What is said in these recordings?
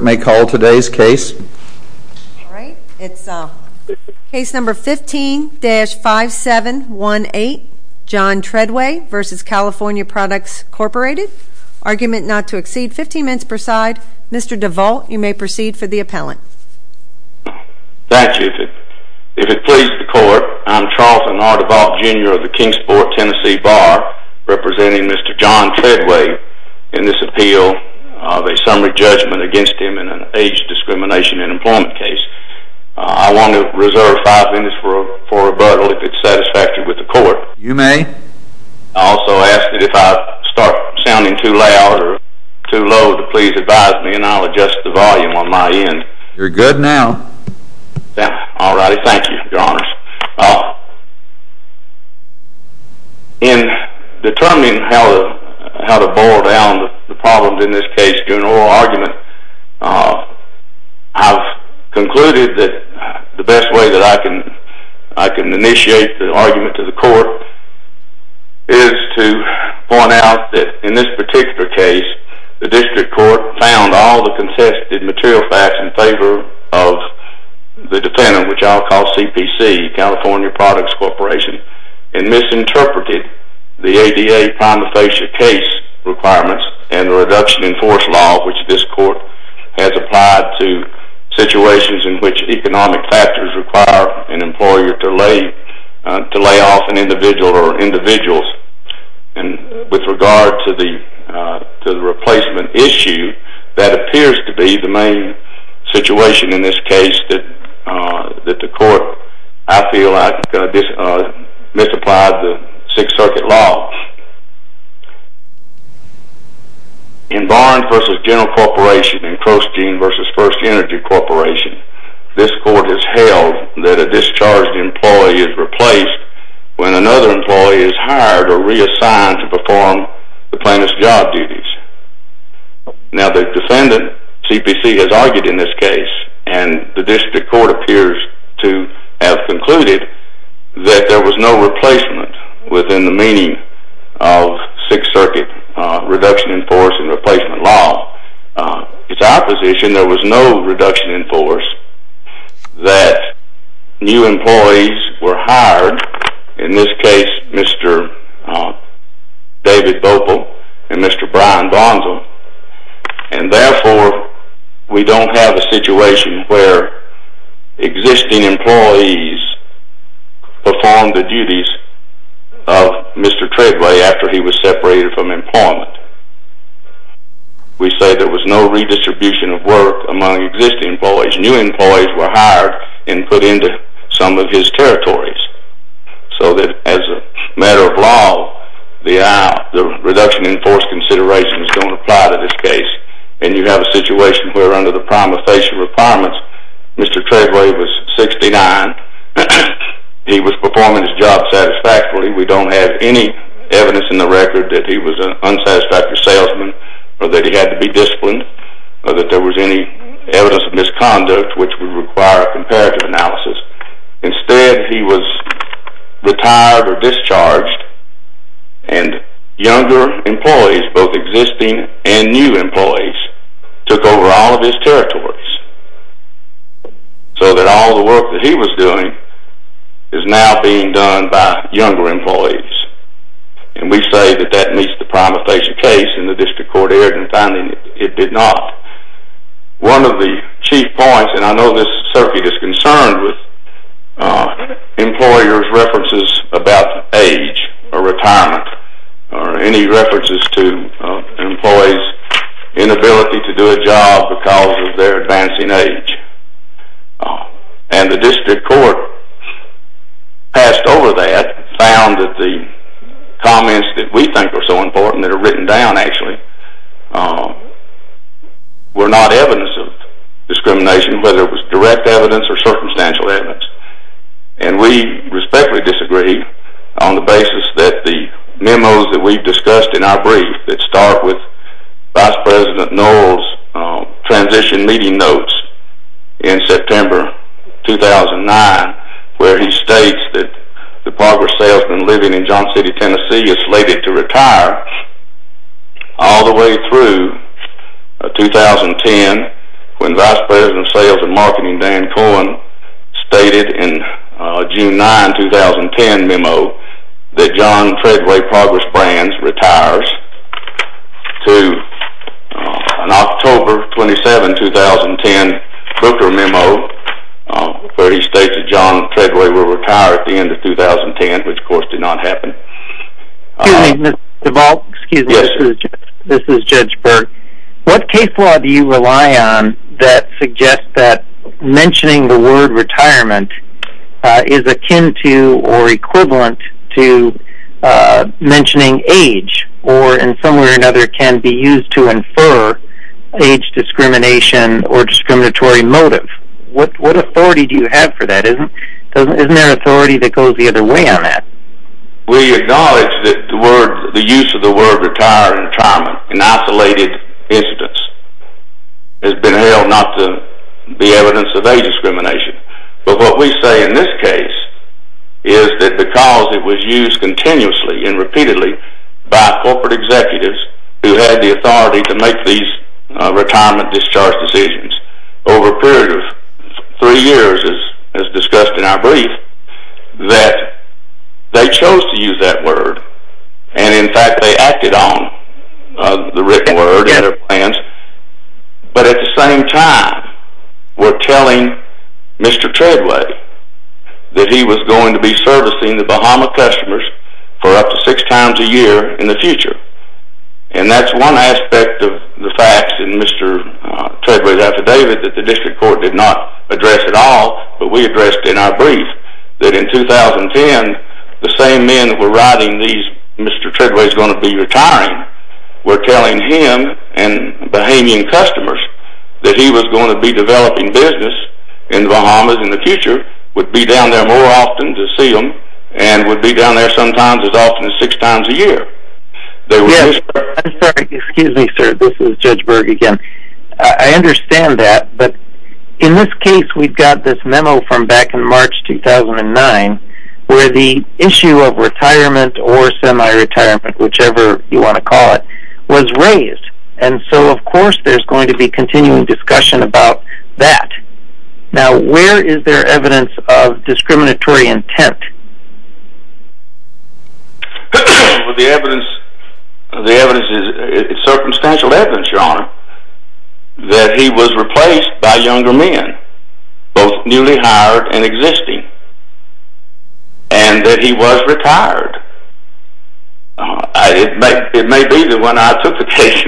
may call today's case. All right, it's case number 15-5718, John Treadway v. California Products Corp. Argument not to exceed 15 minutes per side. Mr. DeVault, you may proceed for the appellant. That's it. If it pleases the court, I'm Charlton R. DeVault, Jr. of the Kingsport, Tennessee Bar representing Mr. John Treadway in this appeal of a summary judgment against him in an age discrimination in employment case. I want to reserve five minutes for a rebuttal if it's satisfactory with the court. You may. I also ask that if I start sounding too loud or too low to please advise me and I'll adjust the volume on my end. You're good now. All righty, thank you, Your Honor. In determining how to boil down the problems in this case to an oral argument, I've concluded that the best way that I can initiate the argument to the court is to point out that in this particular case, the district court found all the California Products Corporation and misinterpreted the ADA prima facie case requirements and the reduction in force law which this court has applied to situations in which economic factors require an employer to lay off an individual or individuals. With regard to the replacement issue, that appears to be the main situation in this case that the court, I feel like, misapplied the Sixth Circuit law. In Barnes v. General Corporation and Kroszkin v. First Energy Corporation, this court has held that a discharged employee is replaced when another employee is hired or reassigned to perform the plaintiff's job duties. Now, the defendant, CPC, has argued in this case and the district court appears to have concluded that there was no replacement within the meaning of Sixth Circuit reduction in force and replacement law. It's our position there was no reduction in force, that new employees were hired, in this case, Mr. David Boppel and Mr. Brian Bonzo, and therefore, we don't have a situation where existing employees performed the duties of Mr. Treadway after he was separated from employment. We say there was no redistribution of work among existing employees. New employees were hired and put into some of his territories, so that as a matter of law, the reduction in force considerations don't apply to this case, and you have a situation where under the prima facie requirements, Mr. Treadway was 69. He was performing his job satisfactorily. We don't have any evidence in the record that he was an unsatisfactory salesman or that he had to be disciplined or that there was any evidence of misconduct which would require a comparative analysis. Instead, he was retired or discharged, and younger employees, both existing and new employees, took over all of his territories, so that all the work that he was doing is now being done by younger employees, and we say that that meets the prima facie case in the district court it did not. One of the chief points, and I know this circuit is concerned with employers' references about age or retirement or any references to employees' inability to do a job because of their advancing age, and the district court passed over that, found that the were not evidence of discrimination, whether it was direct evidence or circumstantial evidence, and we respectfully disagree on the basis that the memos that we've discussed in our brief that start with Vice President Knowles' transition meeting notes in September 2009, where he states that the progress salesman living in John City, Tennessee is slated to retire all the way through 2010 when Vice President of Sales and Marketing Dan Cohen stated in June 9, 2010 memo that John Treadway Progress Brands retires to an October 27, 2010 Booker memo where he states that John Treadway will retire at the end of 2010, which of course did not happen. Excuse me, Mr. DeVault, this is Judge Berg. What case law do you rely on that suggests that mentioning the word retirement is akin to or equivalent to mentioning age or in some way or another can be used to infer age discrimination or discriminatory motive? What authority do you have for that? Isn't there authority that goes the other way on that? We acknowledge that the use of the word retirement in isolated incidents has been held not to be evidence of age discrimination, but what we say in this case is that because it was used continuously and repeatedly by corporate executives who had the authority to make these retirement discharge decisions over a period of three years as discussed in our brief, that they chose to use that word and in fact they acted on the written word and their plans, but at the same time were telling Mr. Treadway that he was going to be servicing the Bahama customers for up to six years. The District Court did not address that at all, but we addressed in our brief that in 2010 the same men that were writing these Mr. Treadway is going to be retiring were telling him and Bahamian customers that he was going to be developing business in the Bahamas in the future, would be down there more often to see them, and would be down there sometimes as often as six times a year. Excuse me, sir, this is Judge Berg again. I understand that, but in this case we've got this memo from back in March 2009 where the issue of retirement or semi-retirement, whichever you want to call it, was raised, and so of course there's going to be continuing discussion about that. Now where is there evidence of discriminatory that he was replaced by younger men, both newly hired and existing, and that he was retired? It may be that when I took the case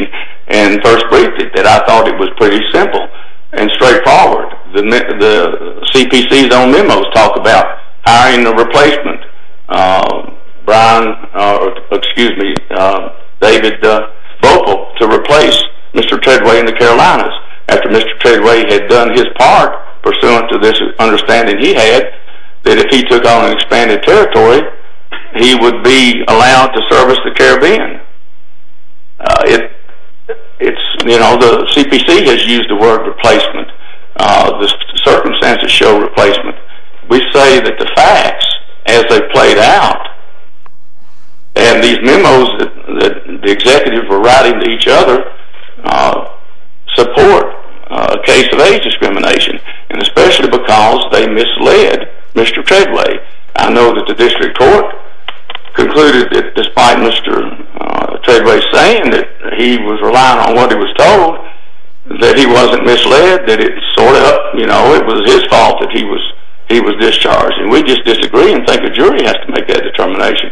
and first briefed it that I thought it was pretty simple and straightforward. The CPC's own memos talk about hiring a replacement, Brian, excuse me, David Vogel, to replace Mr. Treadway in the Carolinas after Mr. Treadway had done his part pursuant to this understanding he had that if he took on an expanded territory he would be allowed to service the Caribbean. It's, you know, the CPC has used the word replacement. The circumstances show replacement. We say that the facts, as they played out, and these memos that the executives were writing to each other support a case of age discrimination, and especially because they misled Mr. Treadway. I know that the district court concluded that despite Mr. Treadway saying that he was relying on what he was told, that he wasn't misled, that it sort of, you know, it was his fault that he was discharged, and we just disagree and think the jury has to make that determination.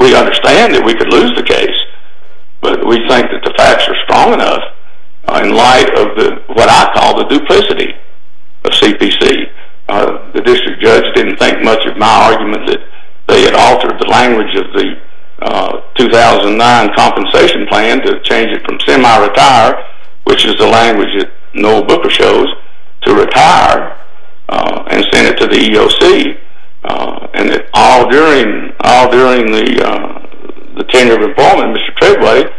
We understand that we could lose the case, but we think that the facts are strong enough in light of what I call the duplicity of CPC. The district judge didn't think much of my argument that they had altered the language of the 2009 compensation plan to change it from semi-retire, which is the language that Noel Booker shows, to retire and send it to the EOC, and that all during the tenure of employment, Mr. Treadway,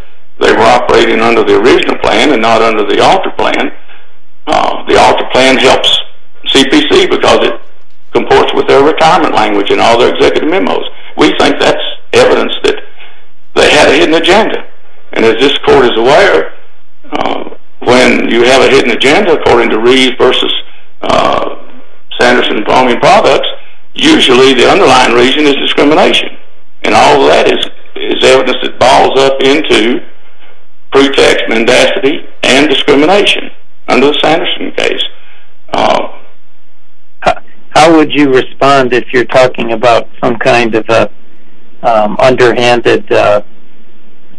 they were operating under the original plan and not under the alter plan. The alter plan helps CPC because it comports with their retirement language and all their executive memos. We think that's evidence that they had a hidden agenda, and as this court is aware, when you have a hidden agenda according to Reeves v. Sanderson and Palme and Products, usually the underlying reason is discrimination, and all that is evidence that boils up into pretext mendacity and discrimination under the Sanderson case. How would you respond if you're talking about some kind of underhanded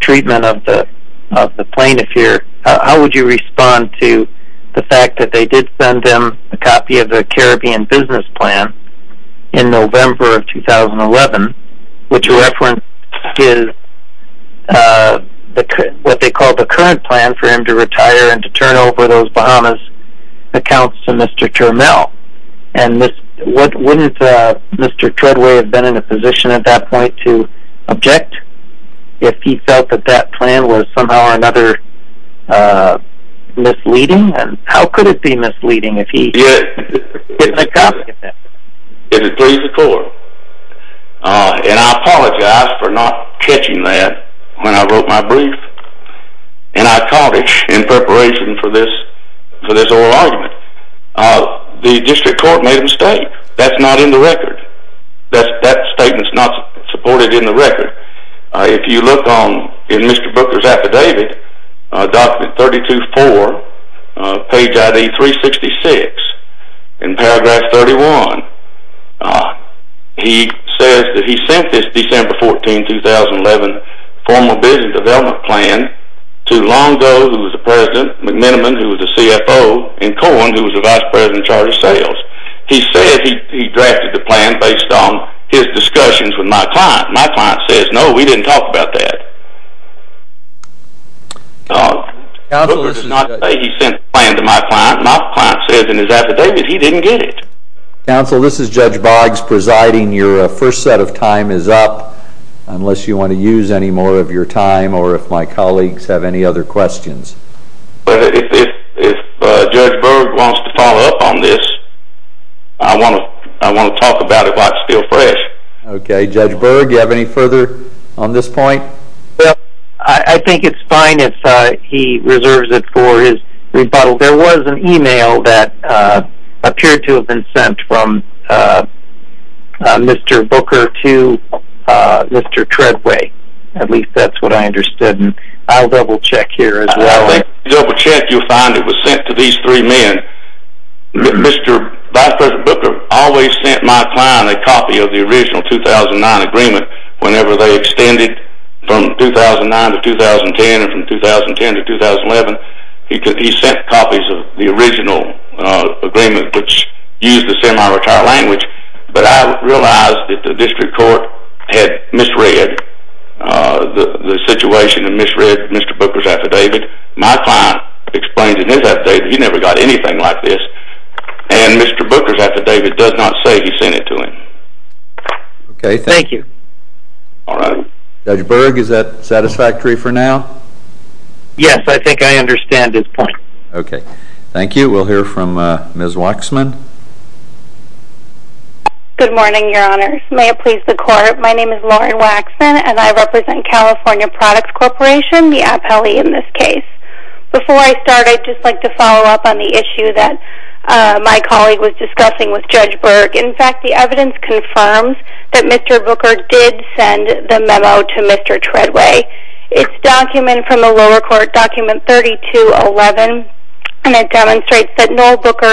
treatment of the plaintiff here? How would you respond to the fact that they did send them a copy of the Caribbean business plan in November of 2011, which references what they call the current plan for him to retire and turn over those Bahamas accounts to Mr. Turmell? And wouldn't Mr. Treadway have been in a position at that point to object if he felt that that plan was somehow or another misleading? And how could it be misleading if he didn't get a copy of that? It would please the court, and I apologize for not for this oral argument. The district court made a mistake. That's not in the record. That statement's not supported in the record. If you look in Mr. Brooker's affidavit, document 32-4, page ID 366, in paragraph 31, he says that he sent this December 14, 2011 formal business development plan to Longo, who was the president, McMiniman, who was the CFO, and Cohen, who was the vice president in charge of sales. He said he drafted the plan based on his discussions with my client. My client says, no, we didn't talk about that. Brooker did not say he sent the plan to my client. My client says in his affidavit he didn't get it. Counsel, this is Judge Boggs presiding. Your first set of time is up, unless you want to use any more of your time, or if my colleagues have any other questions. But if Judge Berg wants to follow up on this, I want to talk about it while it's still fresh. Okay, Judge Berg, you have any further on this point? Well, I think it's fine if he reserves it for his rebuttal. There was an email that appeared to have been sent from Mr. Booker to Mr. Treadway. At least that's what I understood, and I'll double-check here as well. I think if you double-check, you'll find it was sent to these three men. Vice President Booker always sent my client a copy of the original 2009 agreement whenever they extended from 2009 to 2010, and from 2010 to 2011, he sent copies of the original agreement which used the semi-retire language, but I realized that the district court had misread the situation and misread Mr. Booker's affidavit. My client explains in his affidavit he never got anything like this, and Mr. Booker's affidavit does not say he sent it to him. Okay, thank you. All right. Judge Berg, is that satisfactory for now? Yes, I think I understand his point. Okay, thank you. We'll hear from Ms. Waxman. Good morning, Your Honors. May it please the Court, my name is Lauren Waxman, and I represent California Products Corporation, the Appellee in this case. Before I start, I'd just like to follow up on the issue that my colleague was discussing with Judge Berg. In fact, the evidence confirms that Mr. Booker did send the memo to Mr. Treadway. It's a document from the lower court, document 3211, and it demonstrates that Noel Booker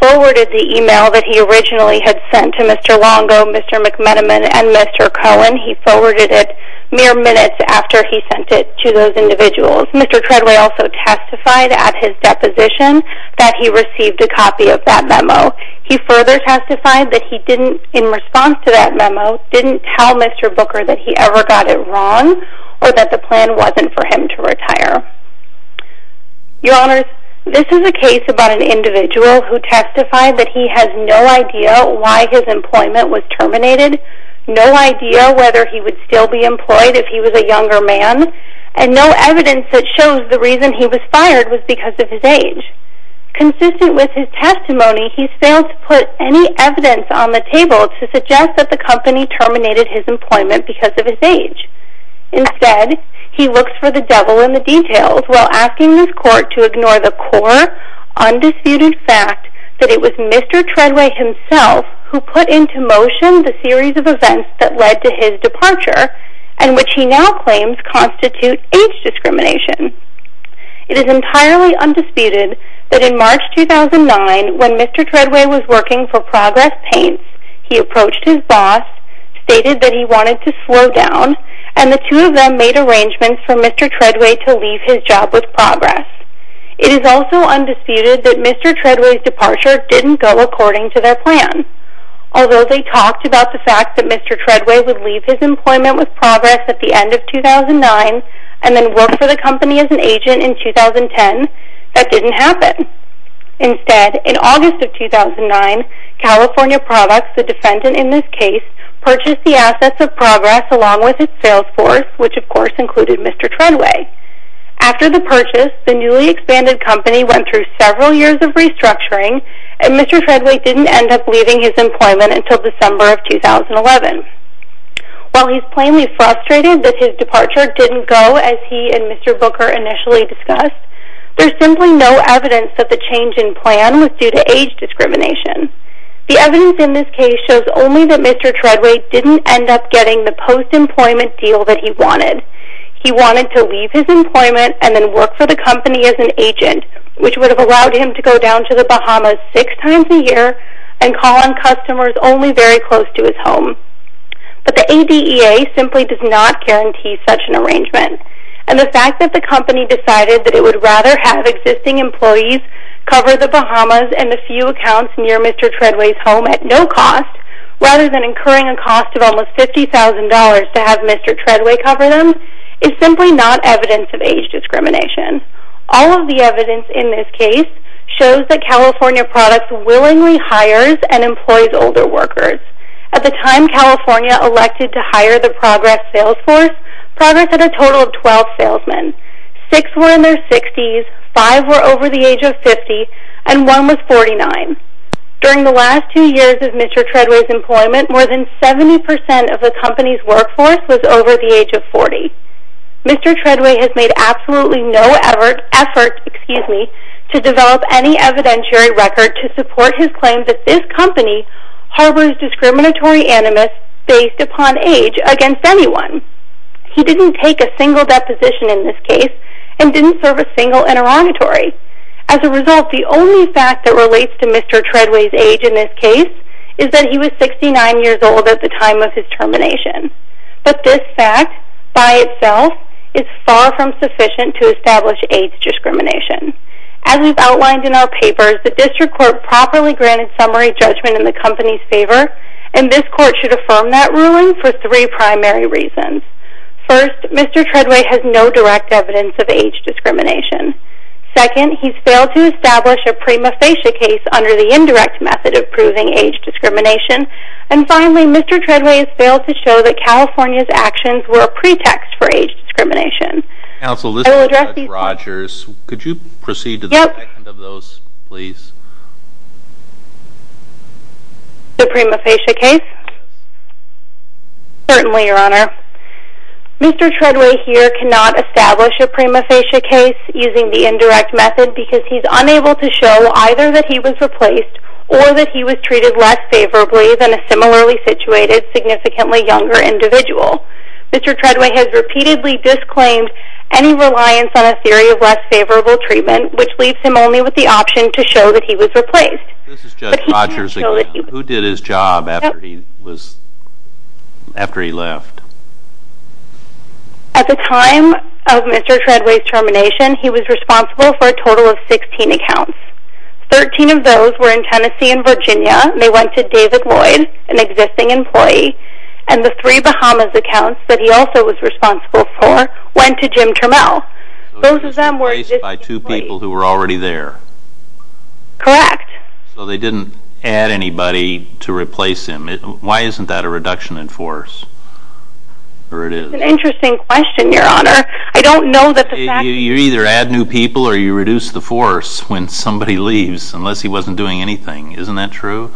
forwarded the email that he originally had sent to Mr. Longo, Mr. McMenamin, and Mr. Cohen. He forwarded it mere minutes after he sent it to those individuals. Mr. Treadway also testified at his deposition that he received a in response to that memo didn't tell Mr. Booker that he ever got it wrong or that the plan wasn't for him to retire. Your Honors, this is a case about an individual who testified that he has no idea why his employment was terminated, no idea whether he would still be employed if he was a younger man, and no evidence that shows the reason he was fired was because of his age. Consistent with his testimony, he's failed to put any evidence on the table to suggest that the company terminated his employment because of his age. Instead, he looks for the devil in the details while asking this court to ignore the core, undisputed fact that it was Mr. Treadway himself who put into motion the series of events that led to his departure and which he now claims constitute age discrimination. It is entirely undisputed that in March 2009, when Mr. Treadway was working for Progress Paints, he approached his boss, stated that he wanted to slow down, and the two of them made arrangements for Mr. Treadway to leave his job with Progress. It is also undisputed that Mr. Treadway's departure didn't go according to their plan. Although they talked about the fact that Mr. Treadway would leave his employment with Progress at the end of 2009 and then work for the company as an agent in 2010, that didn't happen. Instead, in August of 2009, California Products, the defendant in this case, purchased the assets of Progress along with its sales force, which of course included Mr. Treadway. After the purchase, the newly expanded company went through several years of restructuring, and Mr. Treadway didn't end up leaving his employment until December of 2011. While he's plainly frustrated that his departure didn't go as he and Mr. Booker initially discussed, there's simply no evidence that the change in plan was due to age discrimination. The evidence in this case shows only that Mr. Treadway didn't end up getting the post-employment deal that he wanted. He wanted to leave his employment and then work for the company as an agent, which would have allowed him to go down to the Bahamas six times a year and call on customers only very close to his home. But the ADEA simply does not guarantee such an arrangement. And the fact that the company decided that it would rather have existing employees cover the Bahamas and a few accounts near Mr. Treadway's home at no cost, rather than incurring a cost of almost $50,000 to have Mr. Treadway cover them, is simply not evidence of age discrimination. All of the evidence in this case shows that California Products willingly hires and employs older workers. At the time California elected to hire the Progress sales force, Progress had a total of 12 salesmen. Six were in their 60s, five were over the age of 50, and one was 49. During the last two years of Mr. Treadway's employment, more than 70% of the company's workforce was over the age of 40. Mr. Treadway has made absolutely no effort to develop any evidentiary record to support his claim that this company harbors discriminatory animus based upon age against anyone. He didn't take a single deposition in this case and didn't serve a single interrogatory. As a result, the only fact that at the time of his termination. But this fact by itself is far from sufficient to establish age discrimination. As we've outlined in our papers, the district court properly granted summary judgment in the company's favor and this court should affirm that ruling for three primary reasons. First, Mr. Treadway has no direct evidence of age discrimination. Second, he's failed to establish a prima facie case under the indirect method of proving age discrimination and finally Mr. Treadway has failed to show that California's actions were a pretext for age discrimination. Counsel, this is Rodgers. Could you proceed to the second of those please? The prima facie case? Certainly, your honor. Mr. Treadway here cannot establish a prima facie case using the indirect method because he's unable to show either that he was replaced or that he was treated less favorably than a similarly situated significantly younger individual. Mr. Treadway has repeatedly disclaimed any reliance on a theory of less favorable treatment which leaves him only with the option to show that he was replaced. Who did his job after he was after he left? At the time of Mr. Treadway's termination, he was responsible for a total of 16 accounts. 13 of those were in Tennessee and Virginia. They went to David Lloyd, an existing employee, and the three Bahamas accounts that he also was responsible for went to Jim Trammell. Those were replaced by two people who were already there? Correct. So they didn't add anybody to replace him? Why isn't that a reduction in force? It's an interesting question, your honor. I don't know that... You either add new people or you reduce the force when somebody leaves unless he wasn't doing anything. Isn't that true?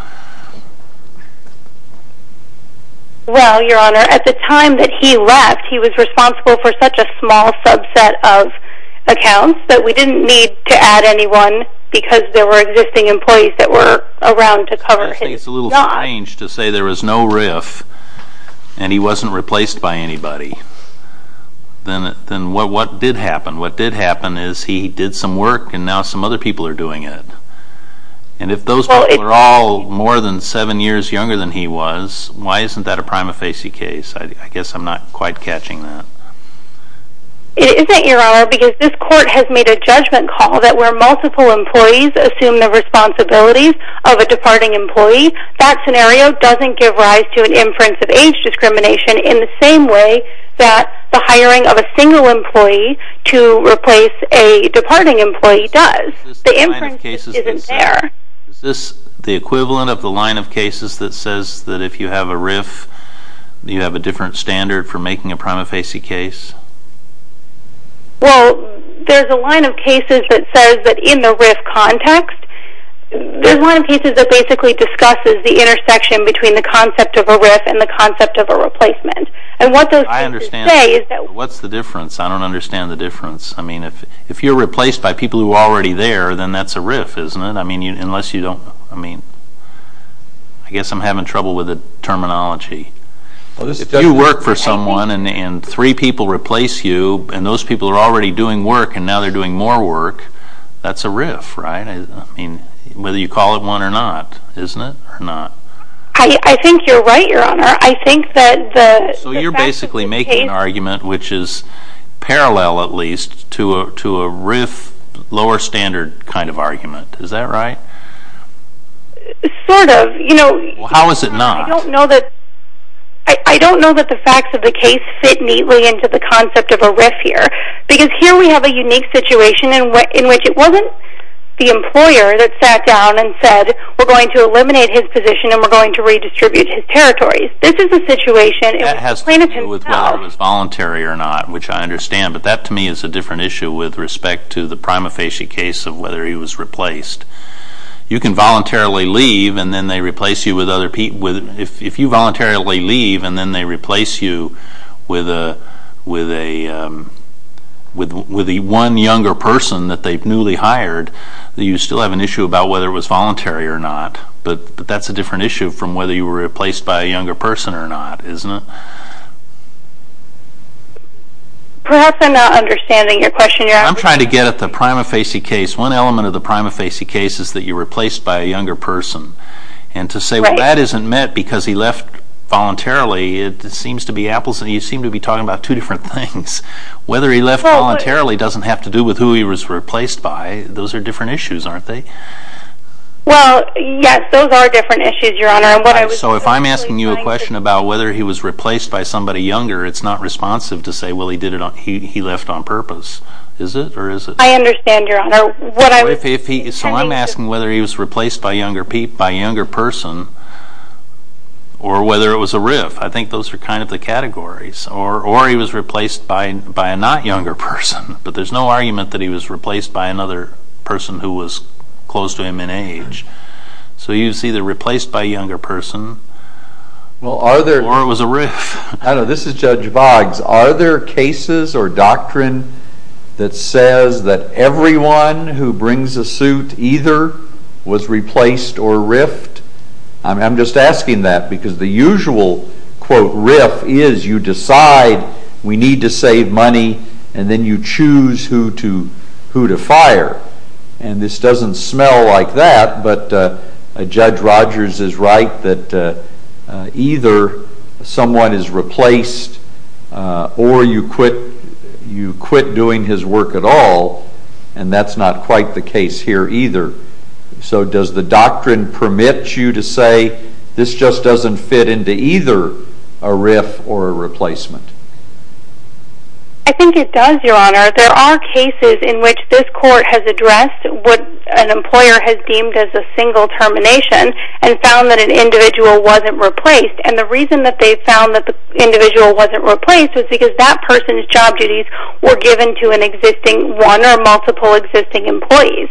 Well, your honor, at the time that he left, he was responsible for such a small subset of accounts that we didn't need to add anyone because there were existing employees that and he wasn't replaced by anybody. Then what did happen? What did happen is he did some work and now some other people are doing it. And if those people are all more than seven years younger than he was, why isn't that a prima facie case? I guess I'm not quite catching that. It isn't, your honor, because this court has made a judgment call that where multiple employees assume the responsibilities of a departing employee, that scenario doesn't give rise to inference of age discrimination in the same way that the hiring of a single employee to replace a departing employee does. The inference isn't there. Is this the equivalent of the line of cases that says that if you have a RIF, you have a different standard for making a prima facie case? Well, there's a line of cases that says that in the RIF context, there's a line of cases that basically discusses the intersection between the concept of a RIF and the concept of a replacement. And what those things say is that... What's the difference? I don't understand the difference. I mean, if you're replaced by people who are already there, then that's a RIF, isn't it? I mean, unless you don't, I mean, I guess I'm having trouble with the terminology. If you work for someone and three people replace you and those people are already doing work and now they're doing more work, that's a RIF, right? Whether you call it one or not, isn't it, or not? I think you're right, your honor. I think that... So you're basically making an argument which is parallel, at least, to a RIF, lower standard kind of argument. Is that right? Sort of, you know... How is it not? I don't know that... I don't know that the facts of the case fit neatly into the concept of a RIF here. Because here we have a unique situation in which it wasn't the employer that sat down and said, we're going to eliminate his position and we're going to redistribute his territories. This is a situation... That has to do with whether it was voluntary or not, which I understand, but that to me is a different issue with respect to the prima facie case of whether he was replaced. You can voluntarily leave and then they replace you with if you voluntarily leave and then they replace you with a one younger person that they've newly hired, you still have an issue about whether it was voluntary or not. But that's a different issue from whether you were replaced by a younger person or not, isn't it? Perhaps I'm not understanding your question, your honor. I'm trying to get at the prima facie case. One element of the prima facie case is that you're replaced by a younger person. And to say, well, that isn't met because he left voluntarily, it seems to be apples and you seem to be talking about two different things. Whether he left voluntarily doesn't have to do with who he was replaced by. Those are different issues, aren't they? Well, yes, those are different issues, your honor. So if I'm asking you a question about whether he was replaced by somebody younger, it's not responsive to say, well, he left on purpose. Is it or is it? I understand, your honor. If he, so I'm asking whether he was replaced by a younger person or whether it was a RIF. I think those are kind of the categories. Or he was replaced by a not younger person, but there's no argument that he was replaced by another person who was close to him in age. So he was either replaced by a younger person or it was a RIF. I don't know. This is Judge Boggs. Are there cases or doctrine that says that everyone who brings a suit either was replaced or RIFed? I'm just asking that because the usual, quote, RIF is you decide we need to save money and then you choose who to fire. And this doesn't smell like that, but Judge Rogers is right that either someone is replaced or you quit doing his work at all. And that's not quite the case here either. So does the doctrine permit you to say this just doesn't fit into either a RIF or a replacement? I think it does, your honor. There are cases in which this court has addressed what an employer has deemed as a single termination and found that an individual wasn't replaced. And the reason that they found that the individual wasn't replaced was because that person's job duties were given to an existing one or multiple existing employees.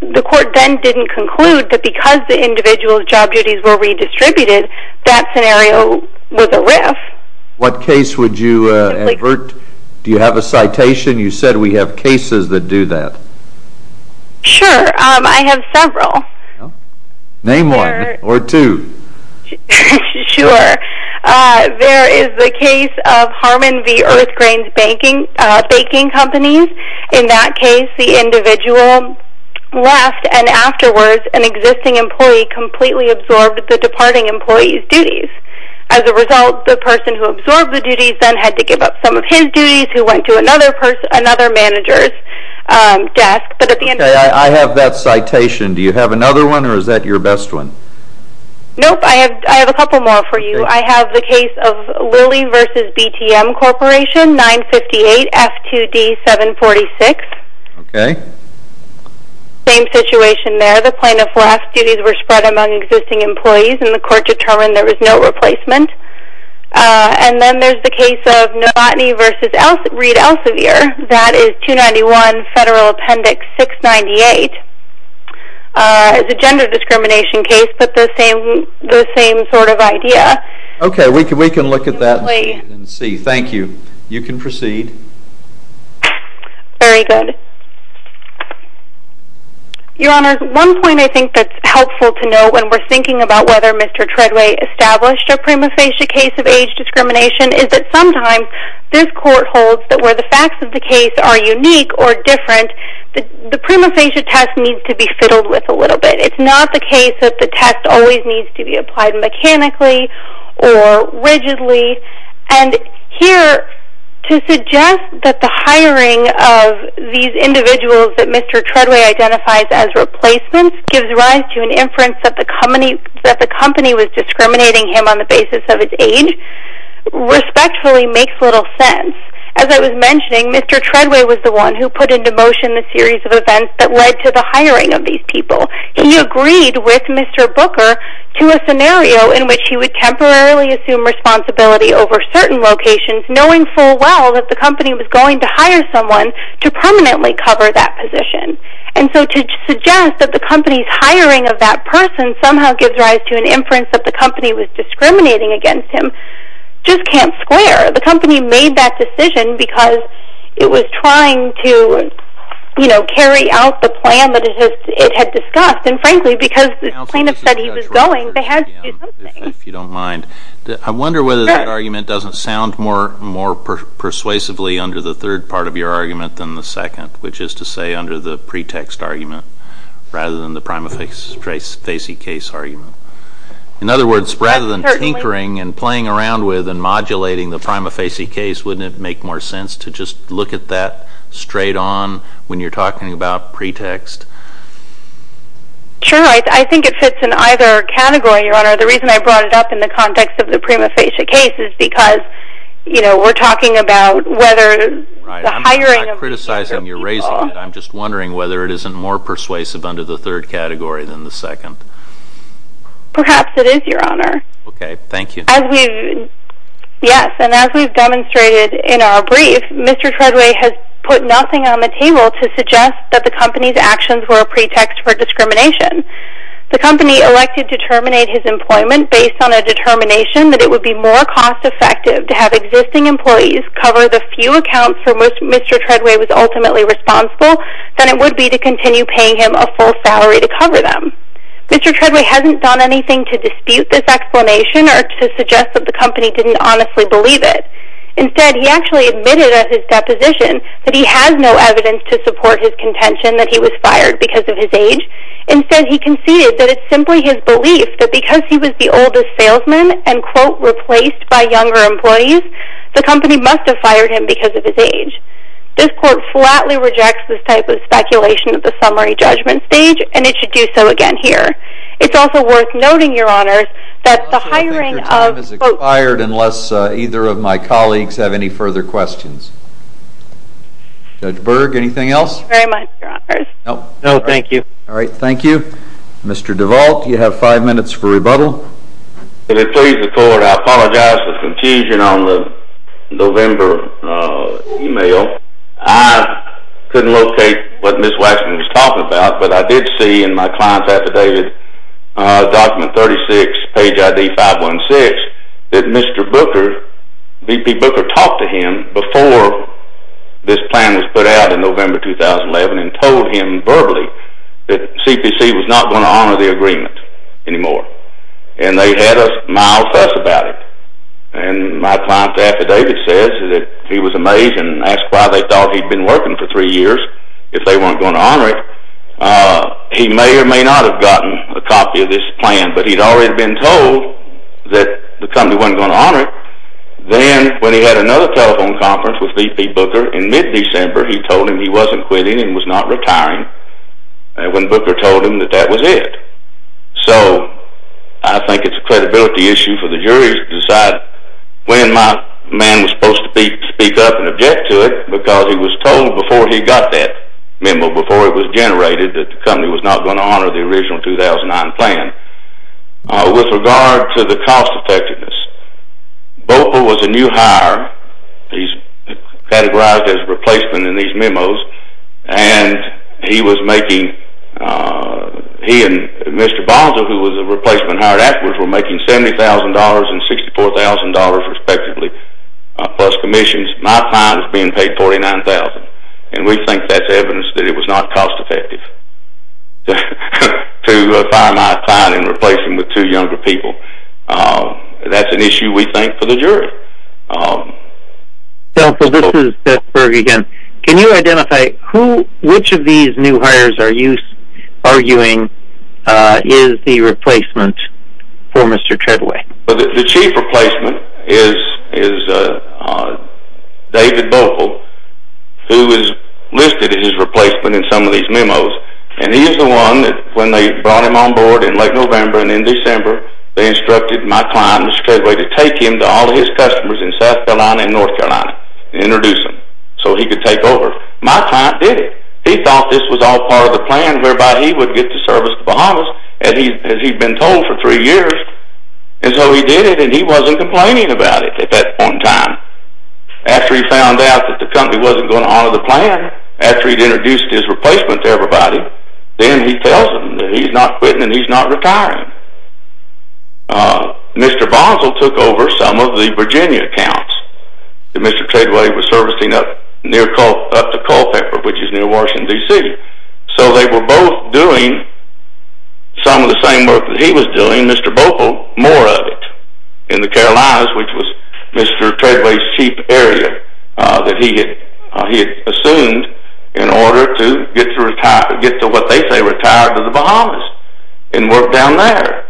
The court then didn't conclude that because the individual's job duties were redistributed, that scenario was a RIF. What case would you avert? Do you have a citation? You said we have cases that do that. Sure, I have several. Name one or two. Sure. There is the case of Harmon v. Earthgrains Baking Companies. In that case, the individual left and afterwards an existing employee completely absorbed the departing employee's duties and had to give up some of his duties who went to another manager's desk. Okay, I have that citation. Do you have another one or is that your best one? Nope, I have a couple more for you. I have the case of Lilly v. BTM Corporation 958 F2D 746. Okay. Same situation there. The plaintiff left, duties were spread among existing employees, and the court determined there was no replacement. And then there's the case of Novotny v. Reed Elsevier. That is 291 Federal Appendix 698. It's a gender discrimination case, but the same sort of idea. Okay, we can look at that and see. Thank you. You can proceed. Very good. Your Honor, one point I think that's helpful to know when we're thinking about whether Mr. Treadway established a prima facie case of age discrimination is that sometimes this court holds that where the facts of the case are unique or different, the prima facie test needs to be fiddled with a little bit. It's not the case that the test always needs to be applied mechanically or rigidly. And here to suggest that the hiring of these individuals that Mr. Treadway identifies as replacements gives rise to an inference that the company was discriminating him on the basis of his age respectfully makes little sense. As I was mentioning, Mr. Treadway was the one who put into motion the series of events that led to the hiring of these people. He agreed with Mr. Booker to a scenario in which he would temporarily assume responsibility over certain locations knowing full well that the company was going to hire someone to permanently cover that position. And so to suggest that the company's hiring of that person somehow gives rise to an inference that the company was discriminating against him just can't square. The company made that decision because it was trying to, you know, carry out the plan that it had discussed and frankly because the plaintiff said he was going they had to do something. If you don't mind, I wonder whether that argument doesn't sound more persuasively under the third part of your argument than the second, which is to say under the pretext argument rather than the prima facie case argument. In other words, rather than tinkering and playing around with and modulating the prima facie case, wouldn't it make more sense to just look at that straight on when you're talking about pretext? Sure, I think it fits in either category, Your Honor. The reason I brought it up in the context of the prima facie case is because, you know, we're talking about whether the hiring of I'm just wondering whether it isn't more persuasive under the third category than the second. Perhaps it is, Your Honor. Okay, thank you. As we've, yes, and as we've demonstrated in our brief, Mr. Treadway has put nothing on the table to suggest that the company's actions were a pretext for discrimination. The company elected to terminate his employment based on a determination that it would be more cost effective to have existing employees cover the few accounts for which Mr. Treadway was ultimately responsible than it would be to continue paying him a full salary to cover them. Mr. Treadway hasn't done anything to dispute this explanation or to suggest that the company didn't honestly believe it. Instead, he actually admitted at his deposition that he has no evidence to support his contention that he was fired because of his age. Instead, he conceded that it's simply his belief that because he was the oldest salesman and, quote, replaced by younger employees, the company must have fired him because of his age. This court flatly rejects this type of speculation at the summary judgment stage, and it should do so again here. It's also worth noting, Your Honors, that the hiring of I don't think your time has expired unless either of my colleagues have any further questions. Judge Berg, anything else? Very much, Your Honors. No. No, thank you. All right, thank you. Mr. DeVault, you have five minutes for rebuttal. If it pleases the court, I apologize for the confusion on the November email. I couldn't locate what Ms. Waxman was talking about, but I did see in my client's affidavit, document 36, page ID 516, that Mr. Booker, VP Booker, talked to him before this plan was put out in November 2011 and told him verbally that CPC was not going to honor the agreement anymore. And they had a mild fuss about it. And my client's affidavit says that he was amazed and asked why they thought he'd been working for three years if they weren't going to honor it. He may or may not have gotten a copy of this plan, but he'd already been told that the company wasn't going to honor it. Then, when he had another telephone conference with VP Booker in mid-December, he told him he wasn't quitting and was not retiring when Booker told him that that was it. So, I think it's a credibility issue for the jury to decide when my man was supposed to speak up and object to it because he was told before he got that memo, before it was generated, that the company was not going to honor the original 2009 plan. With regard to the cost effectiveness, Booker was a new hire. He's categorized as a replacement in these memos. He and Mr. Bonzo, who was a replacement hired afterwards, were making $70,000 and $64,000 respectively, plus commissions. My client is being paid $49,000. And we think that's evidence that it was not cost effective to fire my client and replace him with two younger people. That's an issue, we think, for the jury. So, this is Beth Berg again. Can you identify which of these new hires are you arguing is the replacement for Mr. Treadway? The chief replacement is David Bogle, who is listed as his replacement in some of these memos. And he is the one that, when they brought him on board in late November and in December, they instructed my client, Mr. Treadway, to take him to all his customers in South Carolina and North Carolina and introduce him so he could take over. My client did it. He thought this was all part of the plan whereby he would get to service the Bahamas, as he'd been told for three years. And so he did it, and he wasn't complaining about it at that point in time. After he found out that the company wasn't going to honor the plan, after he'd introduced his replacement to everybody, then he tells them that he's not quitting and he's not retiring. Mr. Boswell took over some of the Virginia accounts that Mr. Treadway was servicing up near, up to Culpeper, which is near Washington, D.C. So they were both doing some of the same work that he was doing, Mr. Bogle, more of it, in the Carolinas, which was Mr. Treadway's chief area that he had assumed in order to get to what they say retired to the Bahamas and work down there.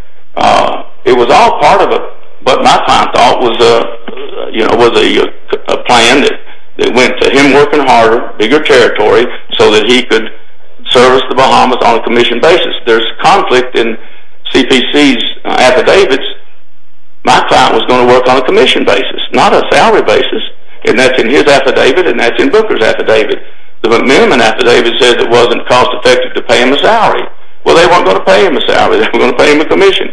It was all part of what my client thought was a plan that went to him working harder, bigger territory, so that he could service the Bahamas on a commissioned basis. There's conflict in CPC's affidavits. My client was going to work on a commissioned basis, not a salary basis, and that's in his affidavit and that's in Booker's affidavit. The McManaman affidavit said it wasn't cost-effective to pay him a salary. Well, they weren't going to pay him a salary. They were going to pay him a commission.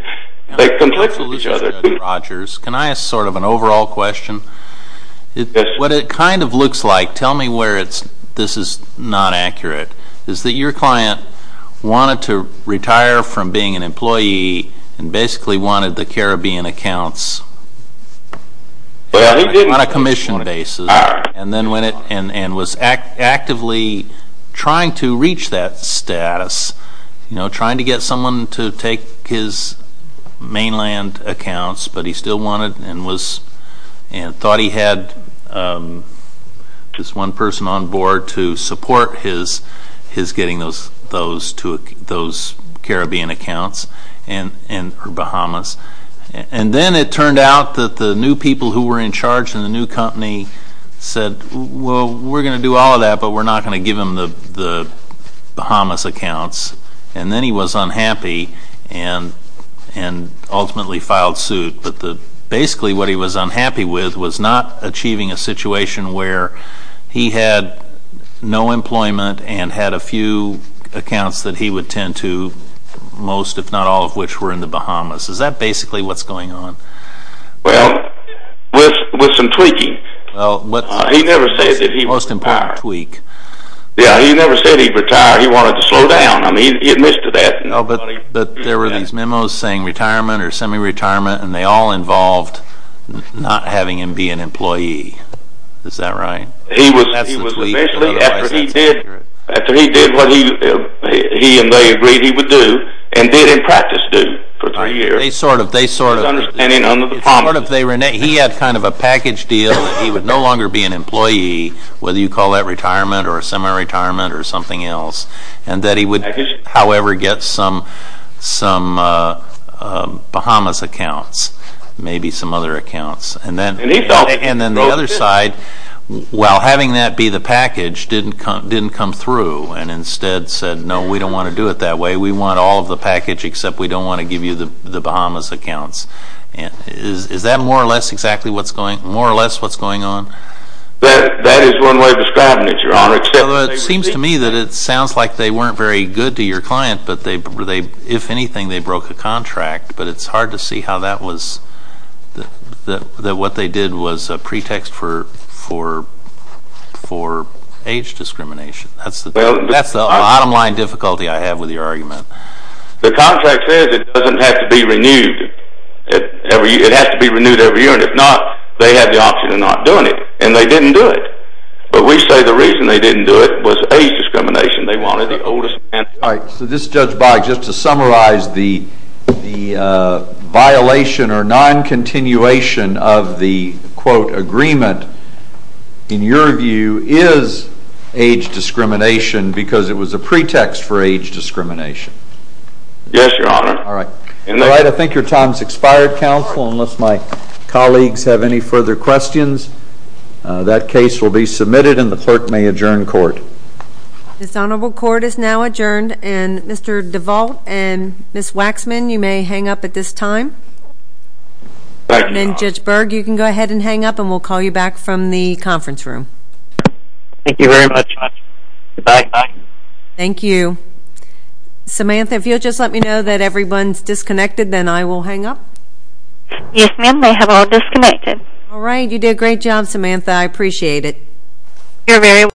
They conflicted with each other. Mr. Rogers, can I ask sort of an overall question? What it kind of looks like, tell me where this is not accurate, is that your client wanted to retire from being an employee and basically wanted the Caribbean accounts on a commissioned basis and was actively trying to reach that status, trying to get someone to take his mainland accounts, but he still wanted and thought he had this one person on board to support his getting those Caribbean accounts in the Bahamas. And then it turned out that the new people who were in charge in the new company said, well, we're going to do all of that, but we're not going to give him the Bahamas accounts. And then he was unhappy and ultimately filed suit. But basically what he was unhappy with was not achieving a situation where he had no employment and had a few accounts that he would tend to, most if not all of which were in the Bahamas. Is that basically what's going on? Well, with some tweaking. He never said that he retired, he wanted to slow down, I mean he admitted to that. But there were these memos saying retirement or semi-retirement and they all involved not having him be an employee, is that right? He was basically, after he did what he and they agreed he would do, and did in practice do for three years. They sort of, he had kind of a package deal that he would no longer be an employee, whether you call that retirement or semi-retirement or something else. And that he would however get some Bahamas accounts, maybe some other accounts. And then the other side, while having that be the package, didn't come through and instead said, no, we don't want to do it that way, we want all of the accounts. Is that more or less exactly what's going on? That is one way of describing it, Your Honor. It seems to me that it sounds like they weren't very good to your client, if anything they broke a contract, but it's hard to see how that was, that what they did was a pretext for age discrimination. That's the bottom line difficulty I have with your argument. The contract says it doesn't have to be renewed, it has to be renewed every year, and if not, they had the option of not doing it, and they didn't do it. But we say the reason they didn't do it was age discrimination, they wanted the oldest man. All right, so this is Judge Boggs, just to summarize the violation or non-continuation of the quote agreement, in your view, is age discrimination because it was a pretext for age discrimination? Yes, Your Honor. All right, I think your time's expired, counsel, unless my colleagues have any further questions. That case will be submitted, and the clerk may adjourn court. This honorable court is now adjourned, and Mr. DeVault and Ms. Waxman, you may hang up at this time. And Judge Berg, you can go ahead and hang up, and we'll call you back from the conference room. Thank you very much. Goodbye. Thank you. Samantha, if you'll just let me know that everyone's disconnected, then I will hang up. Yes, ma'am, they have all disconnected. All right, you did a great job, Samantha, I appreciate it. You're very welcome.